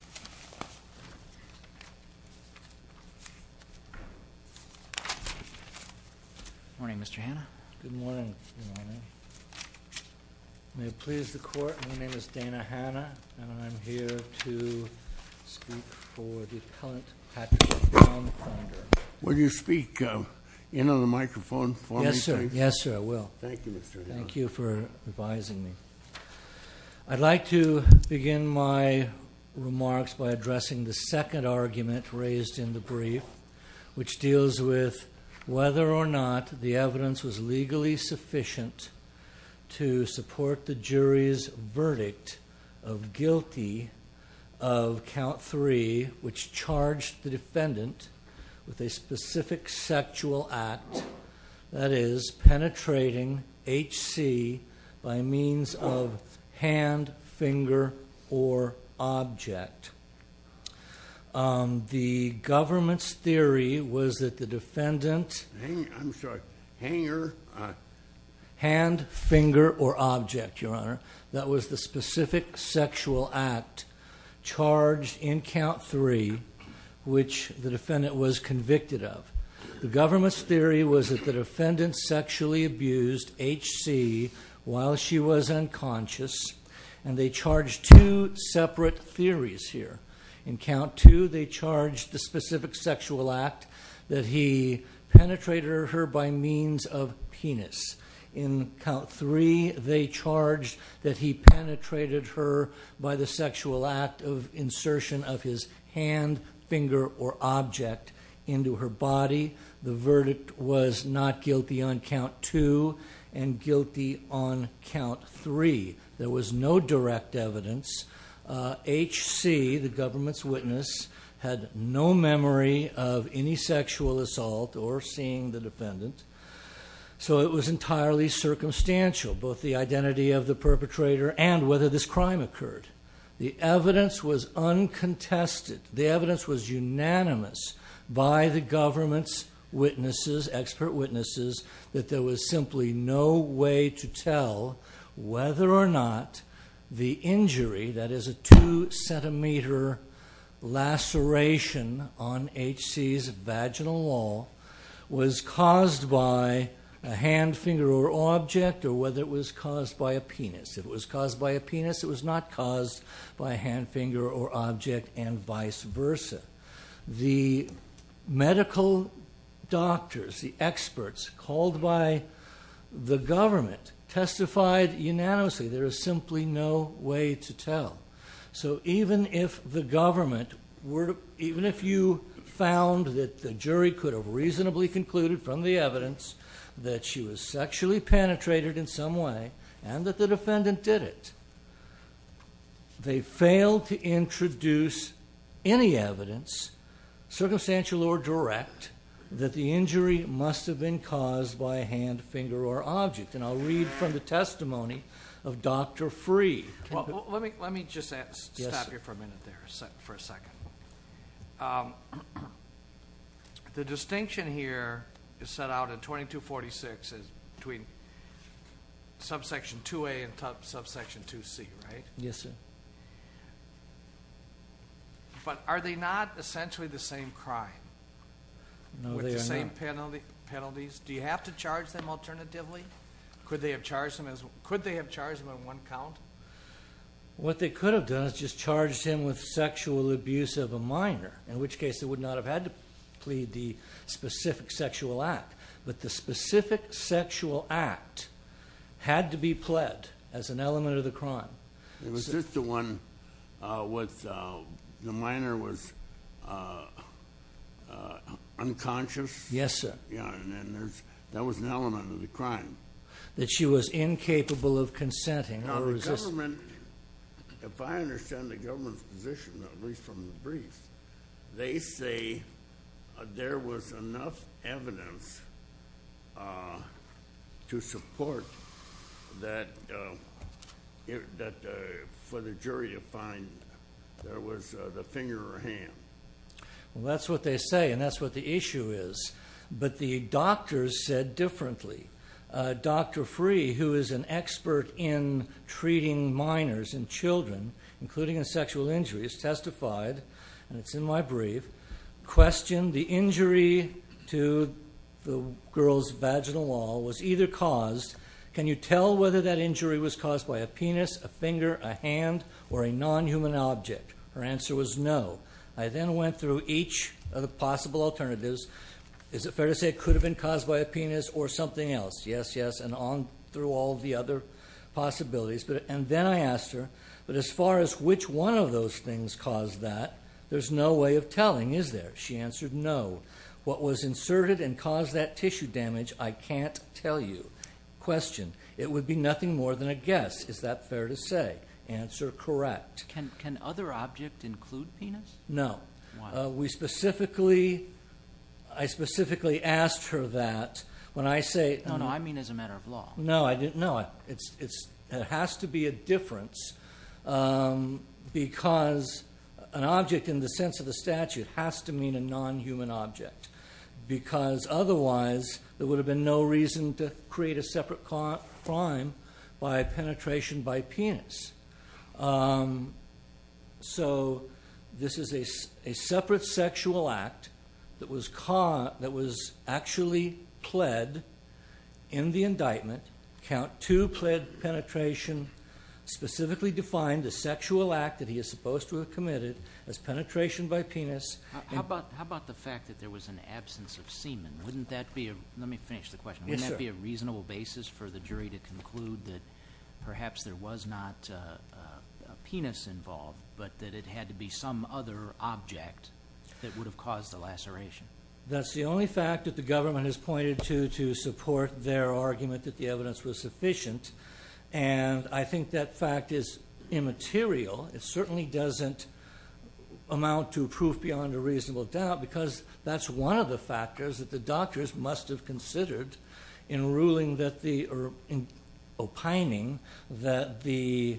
Good morning, Mr. Hannah. Good morning. May it please the Court, my name is Dana Hannah and I'm here to speak for the appellant Patrick Brown Thunder. Will you speak in on the microphone for me? Yes sir, yes sir, I will. Thank you, Mr. Hannah. Thank you for advising me. I'd like to begin my remarks by addressing the second argument raised in the brief, which deals with whether or not the evidence was legally sufficient to support the jury's verdict of guilty of count three, which charged the defendant with a specific sexual act, that is penetrating H.C. by means of hand, finger, or object. The government's theory was that the defendant, hand, finger, or object, your honor, that was the specific sexual act charged in count three, which the defendant was convicted of. The government's theory was that the defendant sexually abused H.C. while she was unconscious, and they charged two separate theories here. In count two, they charged the specific sexual act that he penetrated her by means of penis. In count three, they charged that he penetrated her by the sexual act of insertion of his hand, finger, or object into her body. The verdict was not guilty on count two, and guilty on count three. There was no direct evidence. H.C., the government's witness, had no memory of any sexual assault or seeing the defendant, so it was entirely circumstantial, both the evidence was unanimous by the government's witnesses, expert witnesses, that there was simply no way to tell whether or not the injury, that is a two centimeter laceration on H.C.'s vaginal wall, was caused by a hand, finger, or object, or whether it was caused by a penis. If it was caused by a penis, it was not caused by a hand, finger, or object, and vice versa. The medical doctors, the experts, called by the government, testified unanimously there is simply no way to tell. So even if the government, even if you found that the jury could have reasonably concluded from the evidence that she was sexually penetrated in some way, and that the defendant did it, they failed to introduce any evidence, circumstantial or direct, that the injury must have been caused by a hand, finger, or object. And I'll read from the testimony of Dr. Freeh. Well, let me just stop you for a minute there, for a second. The distinction here is set out in 2246 as between subsection 2A and subsection 2C, right? Yes, sir. But are they not essentially the same crime? No, they are not. With the same penalties? Do you have to charge them alternatively? Could they have charged them in one count? What they could have done is just charged him with sexual abuse of a minor, in which case they would not have had to plead the specific sexual act. But the specific sexual act had to be pled as an element of the crime. Was this the one where the minor was unconscious? Yes, sir. Yeah, and that was an element of the crime. That she was incapable of consenting. Now, the government, if I understand the government's position, at least from the briefs, they say there was enough evidence to support that for the jury to find there was the finger or hand. Well, that's what they say, and that's what the issue is. But the doctors said differently. Dr. Free, who is an expert in treating minors and children, including in sexual injuries, testified, and it's in my brief, questioned the injury to the girl's vaginal wall was either caused, can you tell whether that injury was caused by a penis, a finger, a hand, or a non-human object? Her answer was no. I then went through each of the possible alternatives. Is it fair to say it could have been caused by a penis or something else? Yes, yes, and on through all the other possibilities. And then I asked her, but as far as which one of those things caused that, there's no way of telling, is there? She answered no. What was inserted and caused that tissue damage, I can't tell you. Question, it would be nothing more than a guess. Is that fair to say? Answer, correct. Can other objects include penis? No. We specifically, I specifically asked her that. When I say... No, no, I mean as a matter of law. No, I didn't, no. It has to be a difference because an object in the sense of the statute has to mean a non-human object because otherwise there would have been no reason to create a separate crime by penetration by penis. So this is a separate sexual act that was actually pled in the indictment, count two pled penetration, specifically defined a sexual act that he is supposed to have committed as penetration by penis. How about the fact that there was an absence of semen? Wouldn't that be a, let me finish the question, wouldn't that be a reasonable basis for the jury to conclude that perhaps there was not a penis involved but that it had to be some other object that would have caused the laceration? That's the only fact that the government has pointed to to support their argument that the evidence was sufficient and I think that fact is immaterial. It certainly doesn't amount to proof beyond a reasonable doubt because that's one of the factors that the doctors must have considered in ruling that the, opining that the,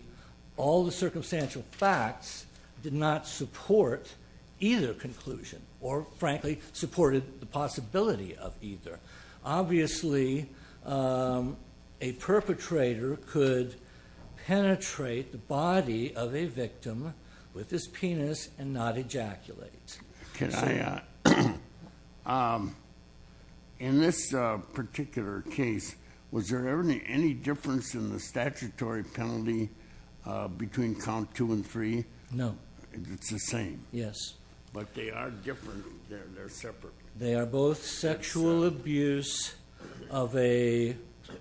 all the circumstantial facts did not support either conclusion or frankly supported the possibility of either. Obviously a perpetrator could penetrate the body of a victim with his penis and not ejaculate. Can I, in this particular case, was there any difference in the statutory penalty between count two and three? No. It's the same. Yes. But they are different, they're separate. They are both sexual abuse of a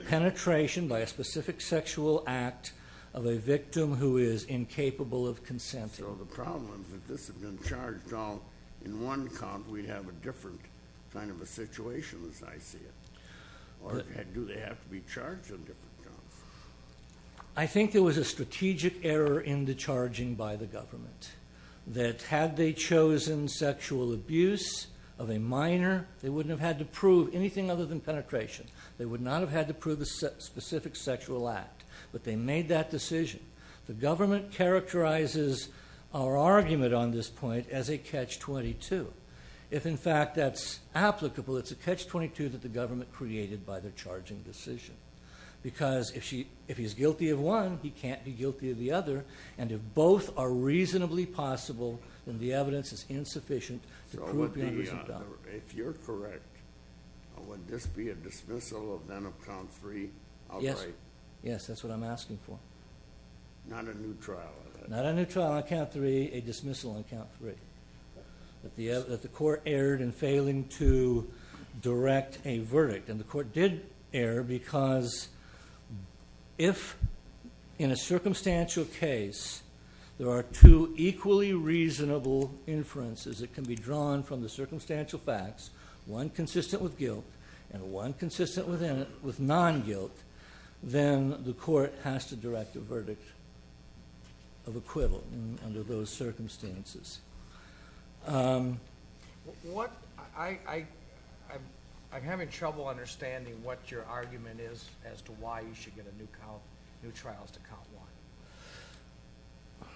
penetration by a specific sexual act of a victim who is incapable of consent. So the problem is if this had been charged all in one count, we'd have a different kind of a situation as I see it. Or do they have to be charged in different counts? I think there was a strategic error in the charging by the government. That had they chosen sexual abuse of a minor, they wouldn't have had to prove anything other than penetration. They would not have had to prove a specific sexual act. But they made that decision. The argument on this point as a catch 22. If in fact that's applicable, it's a catch 22 that the government created by the charging decision. Because if he's guilty of one, he can't be guilty of the other. And if both are reasonably possible, then the evidence is insufficient to prove the unresolved crime. If you're correct, would this be a dismissal of then of count three outright? Yes. That's what I'm asking for. Not a new trial? Not a new trial on count three, a dismissal on count three. That the court erred in failing to direct a verdict. And the court did err because if in a circumstantial case there are two equally reasonable inferences that can be drawn from the circumstantial facts, one consistent with guilt and one consistent with non-guilt, then the court has to direct a verdict of acquittal under those circumstances. I'm having trouble understanding what your argument is as to why you should get a new trial as to count one.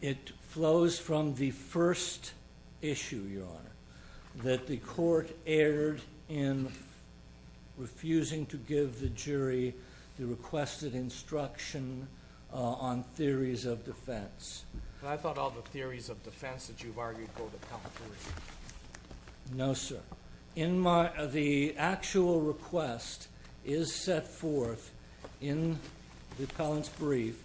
It flows from the first issue, Your Honor, that the court erred in refusing to give the requested instruction on theories of defense. But I thought all the theories of defense that you've argued go to count three. No, sir. The actual request is set forth in the appellant's brief.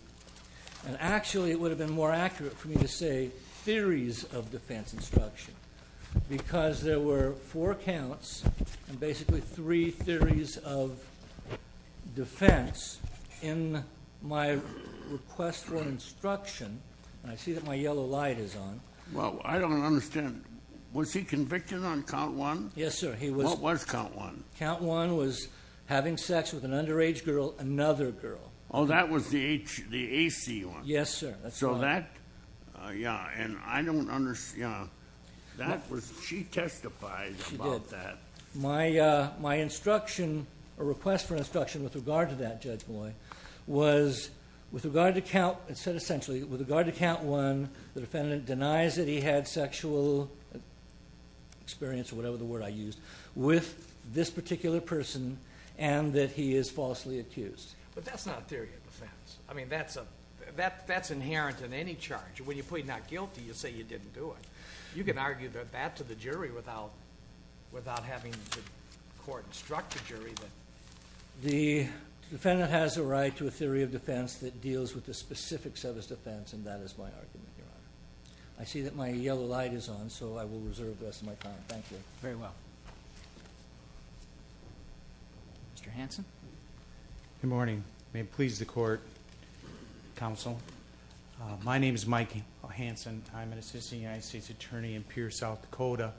And actually, it would have been more accurate for me to say theories of defense instruction because there were four counts and basically three theories of defense in my request for instruction. And I see that my yellow light is on. Well, I don't understand. Was he convicted on count one? Yes, sir. He was. What was count one? Count one was having sex with an underage girl, another girl. Oh, that was the AC one? Yes, sir. So that, yeah, and I don't understand. She testified about that. My instruction, or request for instruction with regard to that judge boy, was with regard to count, it said essentially, with regard to count one, the defendant denies that he had sexual experience, or whatever the word I used, with this particular person and that he is falsely accused. But that's not a theory of defense. I mean, that's inherent in any charge. When you plead not guilty, you say you didn't do it. You can argue that to the jury without having the court instruct the jury. The defendant has a right to a theory of defense that deals with the specifics of his defense and that is my argument. I see that my yellow light is on, so I will reserve the rest of my time. Thank you. Very well. Mr. Hanson? Good morning. May it please the court, counsel. My name is Mikey Hanson. I'm an assistant United States attorney in Pierre, South Dakota.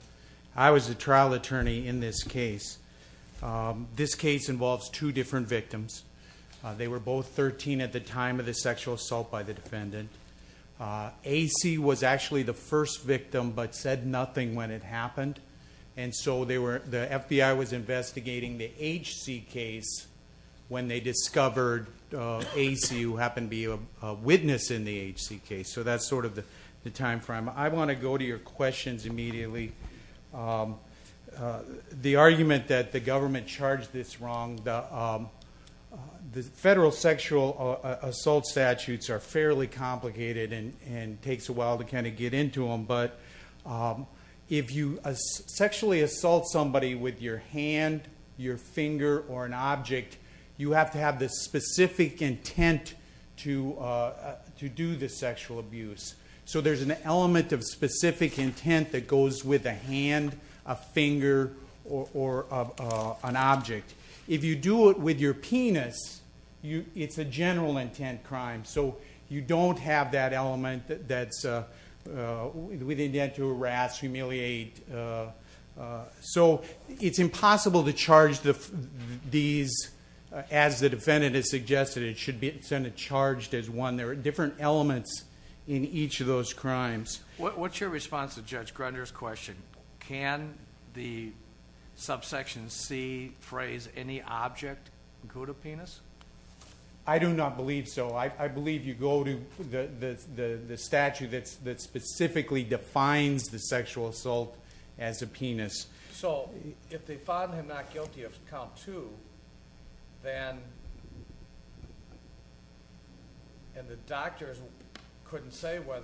I was the trial attorney in this case. This case involves two different victims. They were both 13 at the time of the sexual assault by the defendant. AC was actually the first victim, but said nothing when it happened. So the FBI was investigating the HC case when they discovered AC, who happened to be a witness in the HC case. So that's sort of the time frame. I want to go to your questions immediately. The argument that the government charged this wrong, the federal sexual assault statutes are fairly complicated and takes a while to get into them, but if you sexually assault somebody with your hand, your finger, or an object, you have to have the specific intent to do the sexual abuse. So there's an element of specific intent that goes with a hand, a finger, or an object. If you do it with the intent to harass, humiliate. So it's impossible to charge these as the defendant has suggested. It should be charged as one. There are different elements in each of those crimes. What's your response to Judge Grunder's question? Can the subsection C phrase, any object include a penis? I do not believe so. I believe you go to the statute that specifically defines the sexual assault as a penis. So, if the father is not guilty of count 2, and the doctors couldn't say what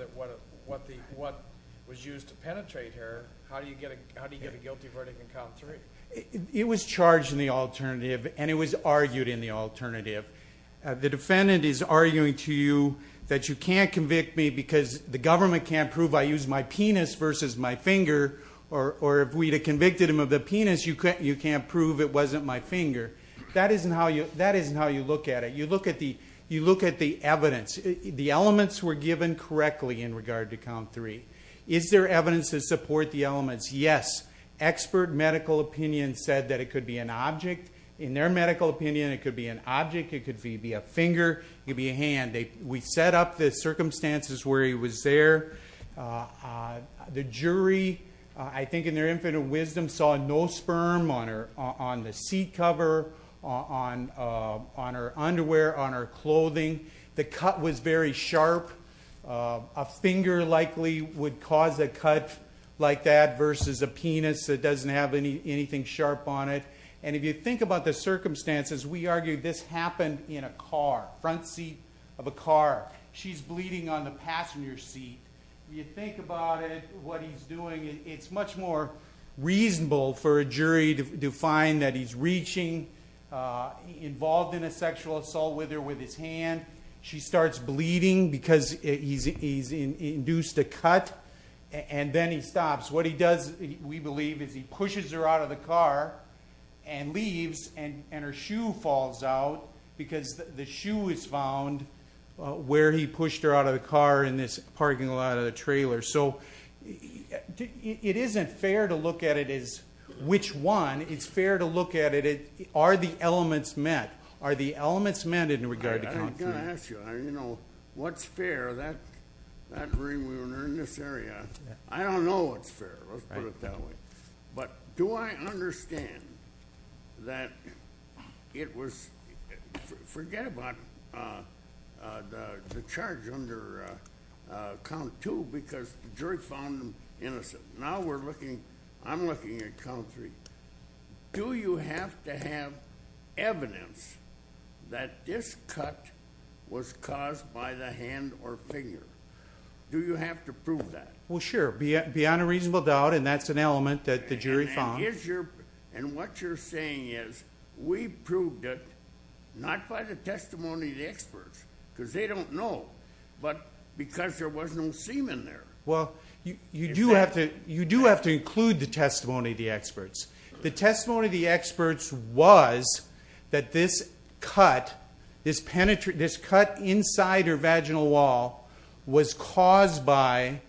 was used to penetrate her, how do you get a guilty verdict in count 3? It was charged in the alternative, and it was argued in the alternative. The defendant is arguing to you that you can't convict me because the government can't prove I used my penis versus my finger, or if we had convicted him of the penis, you can't prove it wasn't my finger. That isn't how you look at it. You look at the evidence. The elements were given correctly in regard to count 3. Is there evidence to support the elements? Yes. Expert medical opinion said that it could be an object. In their medical opinion, it could be an object. It could be a finger. It could be a hand. We set up the circumstances where he was there. The jury, I think in their infinite wisdom, saw no sperm on the seat cover, on her underwear, on her clothing. The cut was very sharp. A finger likely would cause a cut like that versus a penis that doesn't have anything sharp on it. If you think about the circumstances, we argue this happened in a car, front seat of a car. She's bleeding on the passenger seat. You think about it, what he's doing, it's much more reasonable for a jury to find that he's reaching, involved in a sexual assault with her with his hand. She starts bleeding because he's induced a cut and then he stops. What he does, we believe, is he pushes her out of the car and leaves and her shoe falls out because the shoe was found where he pushed her out of the car in this parking lot of the trailer. It isn't fair to look at it as which one. It's fair to look at it, are the elements met? Are the elements met? I ask you, what's fair? That ring we were in this area, I don't know what's fair. Let's put it that way. Do I understand that it was, forget about the charge under count two because the jury found him innocent. Now I'm looking at count three. Do you have to have evidence that this cut was caused by the hand or finger? Do you have to prove that? Well sure, beyond a reasonable doubt and that's an element that the jury found. What you're saying is we proved it, not by the testimony of the experts because they don't know, but because there was no semen there. You do have to include the testimony of the experts. The testimony of the experts was that this cut, this cut inside her vaginal wall was caused by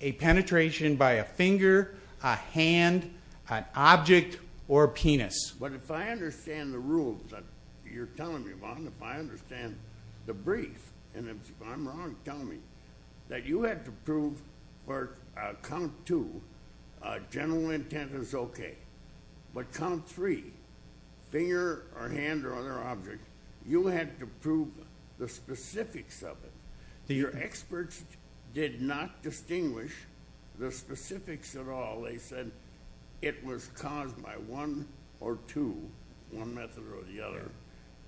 a penetration by a finger, a hand, an object, or a penis. But if I understand the rules that you're telling me about and if I understand the brief and if I'm wrong, tell me that you had to prove for count two, general intent is okay, but count three, finger or hand or other object, you had to prove the specifics of it. Your experts did not distinguish the specifics at all. They said it was caused by one or two, one method or the other.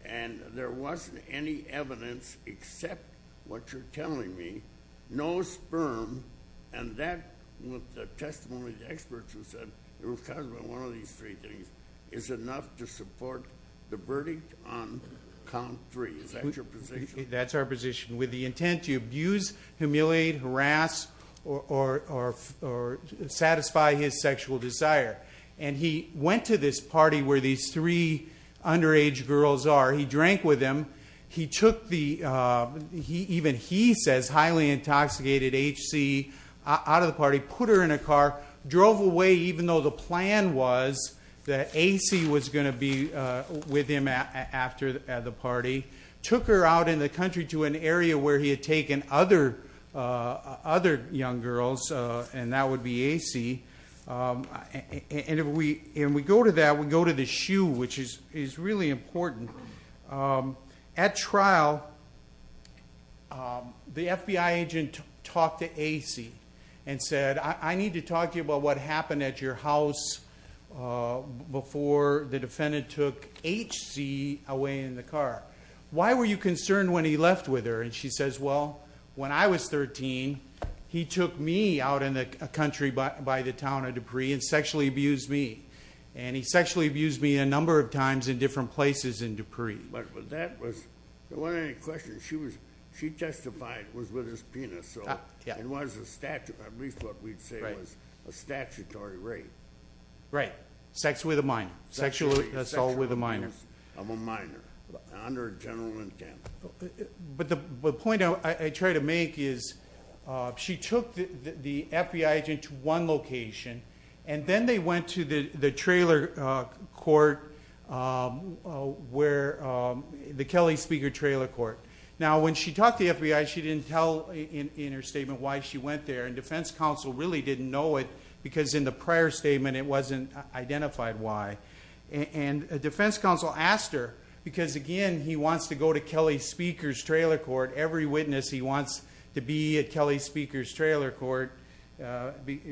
And there wasn't any evidence except what you're telling me. No sperm and that with the testimony of the experts who said it was caused by one of these three things is enough to support the verdict on count three. Is that your position? That's our position. With the intent to abuse, humiliate, harass, or satisfy his sexual desire. And he went to this party where these three underage girls are. He drank with them. He took the, even he says, highly intoxicated H.C. out of the party, put her in a car, drove away even though the plan was that A.C. was going to be with him after the party. Took her out in the country to an area where he had taken other young girls and that would be A.C. And we go to that, we go to the shoe, which is really important. At trial, the FBI agent talked to A.C. and said, I need to talk to you about what happened at your house before the defendant took H.C. away in the car. Why were you concerned when he left with her? And she says, well, when I was 13, he took me out in the country by the town of Dupree and sexually abused me. And he sexually abused me a number of times in different places in Dupree. But that was, there wasn't any question. She testified it was with his penis. So it was a statute, at least what we'd say was a statutory rape. Right. Sex with a minor. Sexual assault with a minor. Sexual abuse of a minor. Under a general intent. But the point I try to make is she took the FBI agent to one location and then they went to the trailer court where, the Kelly Speaker trailer court. Now when she talked to the FBI, she didn't tell in her statement why she went there. And defense counsel really didn't know it because in the prior statement it wasn't identified why. And defense counsel asked her, because again, he wants to go to Kelly Speaker's trailer court. Every witness he wants to be at Kelly Speaker's trailer court.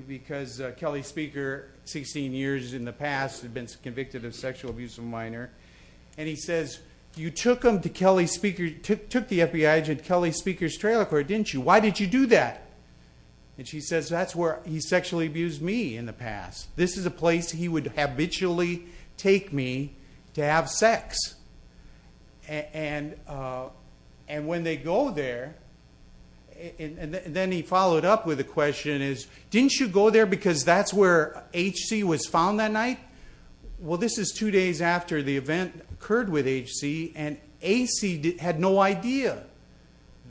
Because Kelly Speaker, 16 years in the past, had been convicted of sexual abuse of a minor. And he says, you took him to Kelly Speaker, took the FBI agent to Kelly Speaker's trailer court, didn't you? Why did you do that? And she says, that's where he sexually abused me in the past. This is a place he would habitually take me to have sex. And when they go there, and then he followed up with a question, didn't you go there because that's where H.C. was found that night? Well this is two days after the event occurred with H.C. and A.C. had no idea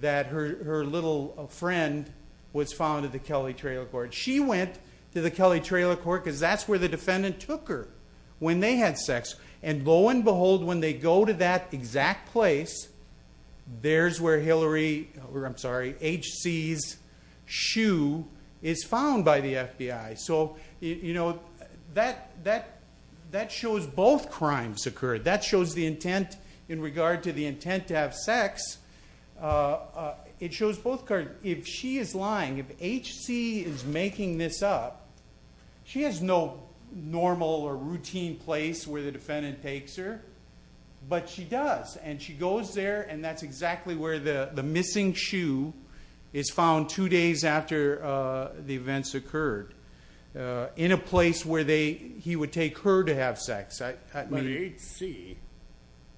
that her little friend was found at the Kelly trailer court. She went to the Kelly trailer court because that's where the defendant took her when they had sex. And lo and behold, when they go to that exact place, there's where H.C.'s shoe is found by the FBI. So that shows both crimes occurred. That shows the intent in regard to the intent to have sex. If she is lying, if H.C. is making this up, she has no normal or routine place where the defendant takes her, but she does. And she goes there and that's exactly where the missing shoe is found two days after the events occurred. In a place where he would take her to have sex. But H.C.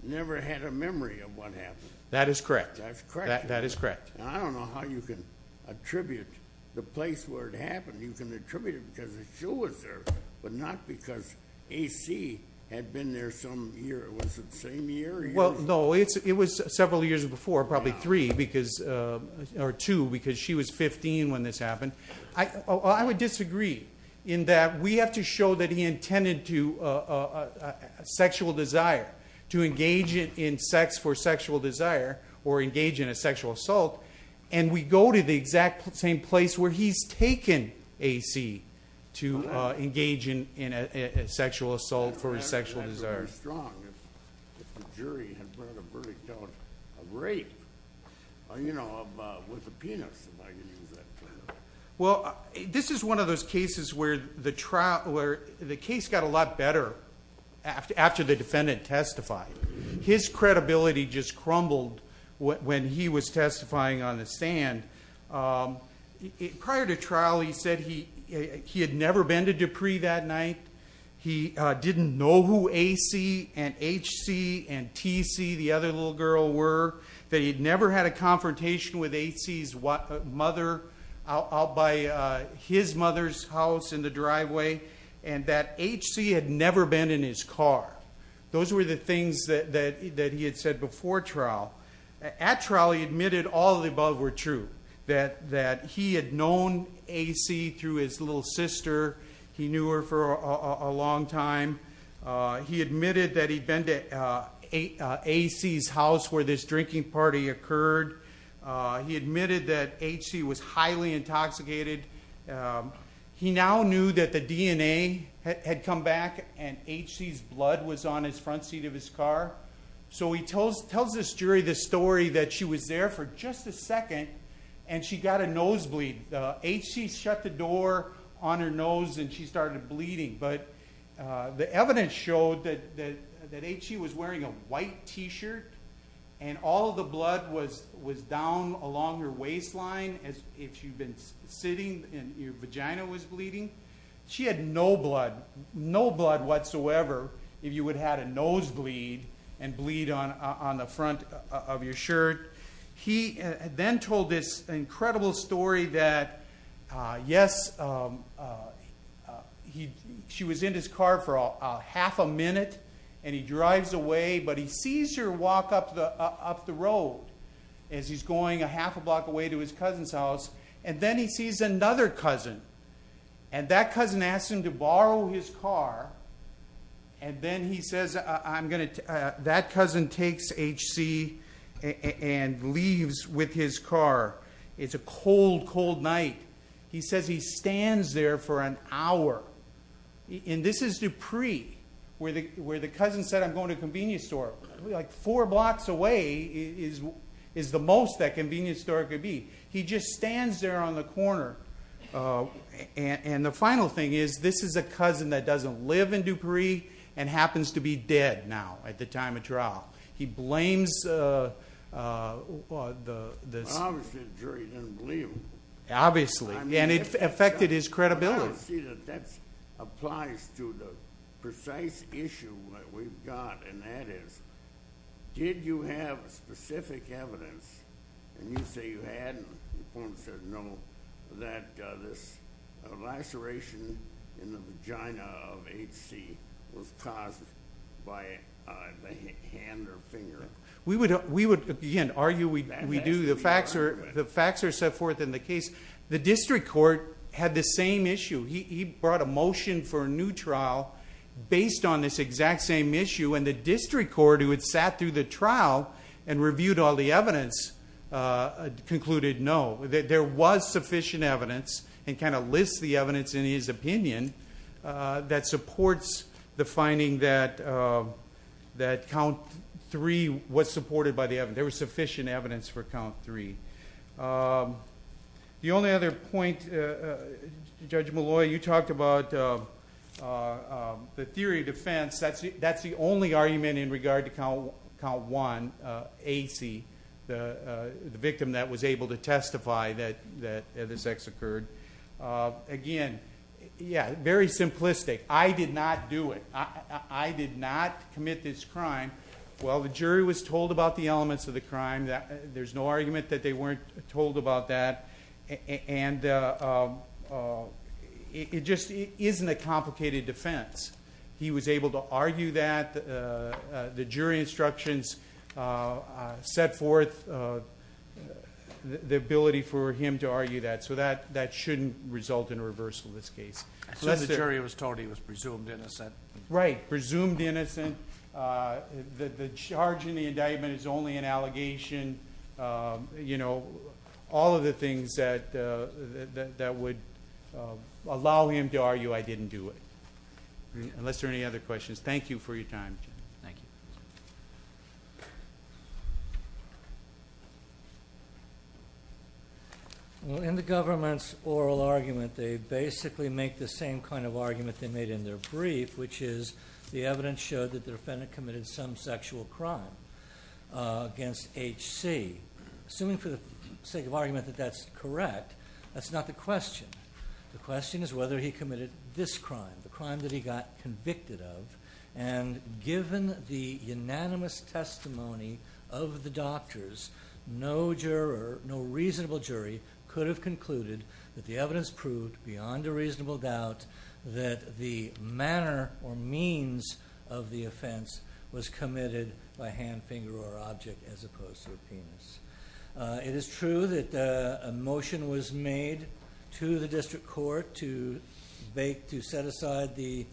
never had a memory of what happened. That is correct. That's correct. That is correct. I don't know how you can attribute the place where it happened. You can attribute it because the shoe was there, but not because H.C. had been there some year. Was it the same year? No, it was several years before, probably three, or two, because she was 15 when this happened. I would disagree in that we have to show that he intended to, a sexual desire to engage in sex for sexual desire, or engage in a sexual assault, and we go to the exact same place where he's taken H.C. to engage in a sexual assault for a sexual desire. That's very strong. If the jury had brought a verdict on a rape, you know, with a penis, am I going to use that? Well, this is one of those cases where the case got a lot better after the defendant testified. His credibility just crumbled when he was testifying on the stand. Prior to trial, he said he had never been to Dupree that night. He didn't know who A.C. and H.C. and T.C., the other little girl, were, that he'd never had a confrontation with H.C.'s mother out by his mother's house in the driveway, and that H.C. had never been in his car. Those were the things that he had said before trial. At trial, he admitted all of the above were true, that he had known A.C. through his little sister. He knew her for a long time. He admitted that he'd been to A.C.'s house where this drinking party occurred. He admitted that H.C. was highly intoxicated. He now knew that the DNA had come back and H.C.'s blood was on the front seat of his car. So he tells this jury this story that she was there for just a second and she got a nosebleed. H.C. shut the door on her nose and she started bleeding. But the evidence showed that H.C. was wearing a white T-shirt and all of the blood was down along her waistline, as if she'd been sitting and her vagina was bleeding. She had no blood, no blood whatsoever, if you would have had a nosebleed and bleed on She was in his car for half a minute and he drives away, but he sees her walk up the road as he's going a half a block away to his cousin's house and then he sees another cousin and that cousin asks him to borrow his car and then he says, that cousin takes H.C. and leaves with his car. It's a cold, cold night. He says he stands there for an hour. And this is Dupree, where the cousin said, I'm going to a convenience store. Four blocks away is the most that convenience store could be. He just stands there on the corner. And the final thing is, this is a cousin that doesn't live in Dupree and happens to be dead now at the Obviously the jury didn't believe him. Obviously, and it affected his credibility. I don't see that that applies to the precise issue that we've got and that is, did you have specific evidence and you say you hadn't, the informant said no, that this laceration in the vagina of H.C. was caused by the hand or finger. We would argue, we do, the facts are set forth in the case. The district court had the same issue. He brought a motion for a new trial based on this exact same issue and the district court, who had sat through the trial and reviewed all the evidence, concluded no. There was sufficient evidence and kind of lists the evidence in his opinion that supports the was supported by the evidence. There was sufficient evidence for count three. The only other point, Judge Molloy, you talked about the theory of defense. That's the only argument in regard to count one, H.C., the victim that was able to testify that the sex occurred. Again, yeah, very simplistic. I did not do it. I did not commit this crime. Well, the jury was told about the elements of the crime. There's no argument that they weren't told about that and it just isn't a complicated defense. He was able to argue that. The jury instructions set forth the ability for him to argue that. So that shouldn't result in a reversal of this case. So the jury was told he was presumed innocent. Right. Presumed innocent. The charge in the indictment is only an allegation. All of the things that would allow him to argue I didn't do it. Unless there are any other questions. Thank you for your time. In the government's oral argument, they basically make the same kind of argument they made in their brief, which is the evidence showed that the defendant committed some sexual crime against H.C. Assuming for the sake of argument that that's correct, that's not the question. The question is whether he committed this crime, the crime that he got convicted of. And given the unanimous testimony of the doctors, no juror, no reasonable jury, could have said that the manner or means of the offense was committed by hand, finger, or object as opposed to a penis. It is true that a motion was made to the district court to set aside the,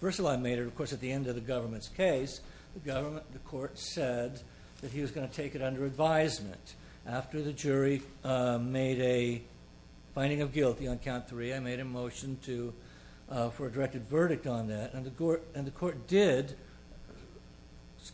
first of all I made it of course at the end of the government's case, the court said that he was going to take it under advisement. After the jury made a finding of guilty on that, and the court did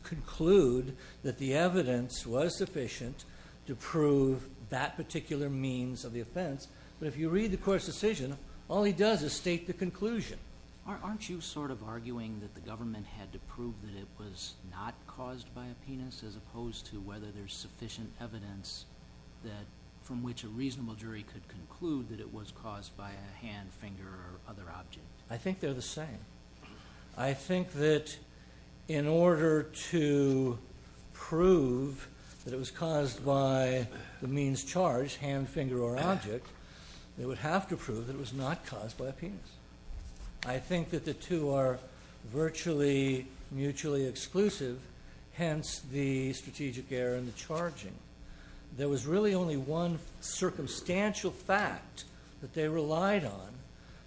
conclude that the evidence was sufficient to prove that particular means of the offense. But if you read the court's decision, all he does is state the conclusion. Aren't you sort of arguing that the government had to prove that it was not caused by a penis as opposed to whether there is sufficient evidence from which a reasonable jury could conclude that it was caused by a hand, finger, or other object? I think they're the same. I think that in order to prove that it was caused by the means charged, hand, finger, or object, they would have to prove that it was not caused by a penis. I think that the two are virtually mutually exclusive, hence the strategic error in the charging. There was really only one circumstantial fact that they relied on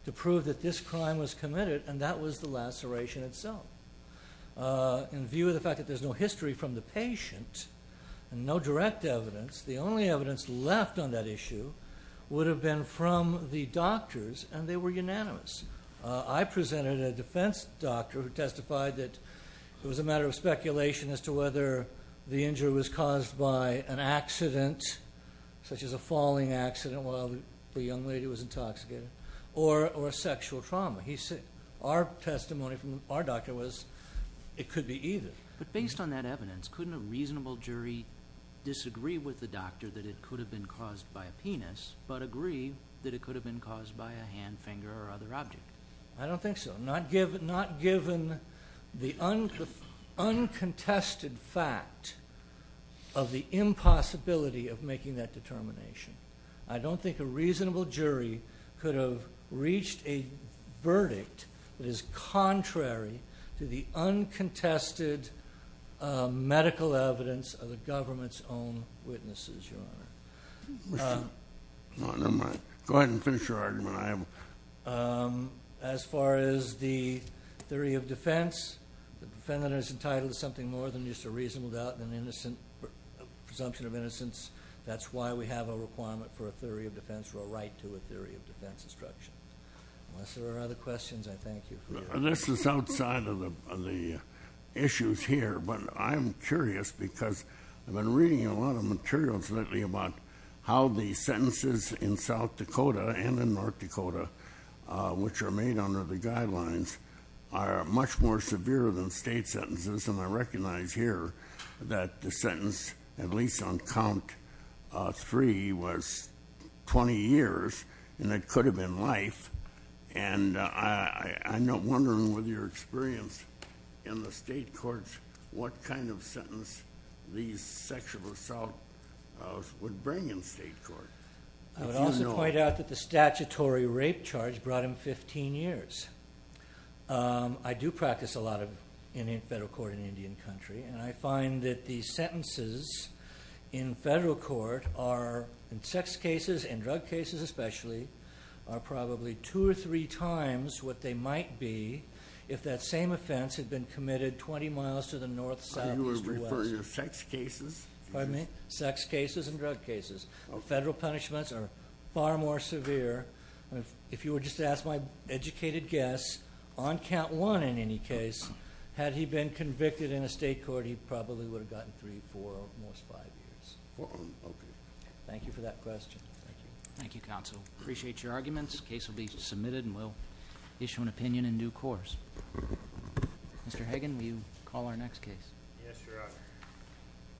to prove that this crime was committed, and that was the laceration itself. In view of the fact that there's no history from the patient, and no direct evidence, the only evidence left on that issue would have been from the doctors, and they were unanimous. I presented a defense doctor who testified that it was a matter of speculation as to whether the evidence was caused by an accident, such as a falling accident while the young lady was intoxicated, or sexual trauma. Our testimony from our doctor was it could be either. But based on that evidence, couldn't a reasonable jury disagree with the doctor that it could have been caused by a penis, but agree that it could have been caused by a hand, finger, or other object? I don't think so. Not given the uncontested fact of the impossibility of making that determination. I don't think a reasonable jury could have reached a verdict that is contrary to the uncontested medical evidence of the government's own witnesses, Your Honor. Go ahead and finish your argument. As far as the theory of defense, the defendant is entitled to something more than just a reasonable doubt and presumption of innocence. That's why we have a requirement for a theory of defense or a right to a theory of defense instruction. Unless there are other questions, I thank you. This is outside of the issues here, but I'm curious because I've been reading a lot of articles about how the sentences in South Dakota and in North Dakota, which are made under the guidelines, are much more severe than state sentences. And I recognize here that the sentence, at least on count three, was 20 years, and it could have been life. And I'm wondering with your experience in the state courts, what kind of sentence these bring in state court? I would also point out that the statutory rape charge brought him 15 years. I do practice a lot of federal court in Indian country, and I find that the sentences in federal court are, in sex cases and drug cases especially, are probably two or three times what they might be if that same offense had been committed 20 miles to the north, south, east, or west. Are you referring to sex cases? Pardon me? Sex cases and drug cases. Federal punishments are far more severe. If you were just to ask my educated guess, on count one in any case, had he been convicted in a state court, he probably would have gotten three, four, or at most five years. Thank you for that question. Thank you, counsel. Appreciate your arguments. The case will be submitted and we'll issue an opinion in due course. Mr. Hagan, will you call our next case? Yes, Your Honor.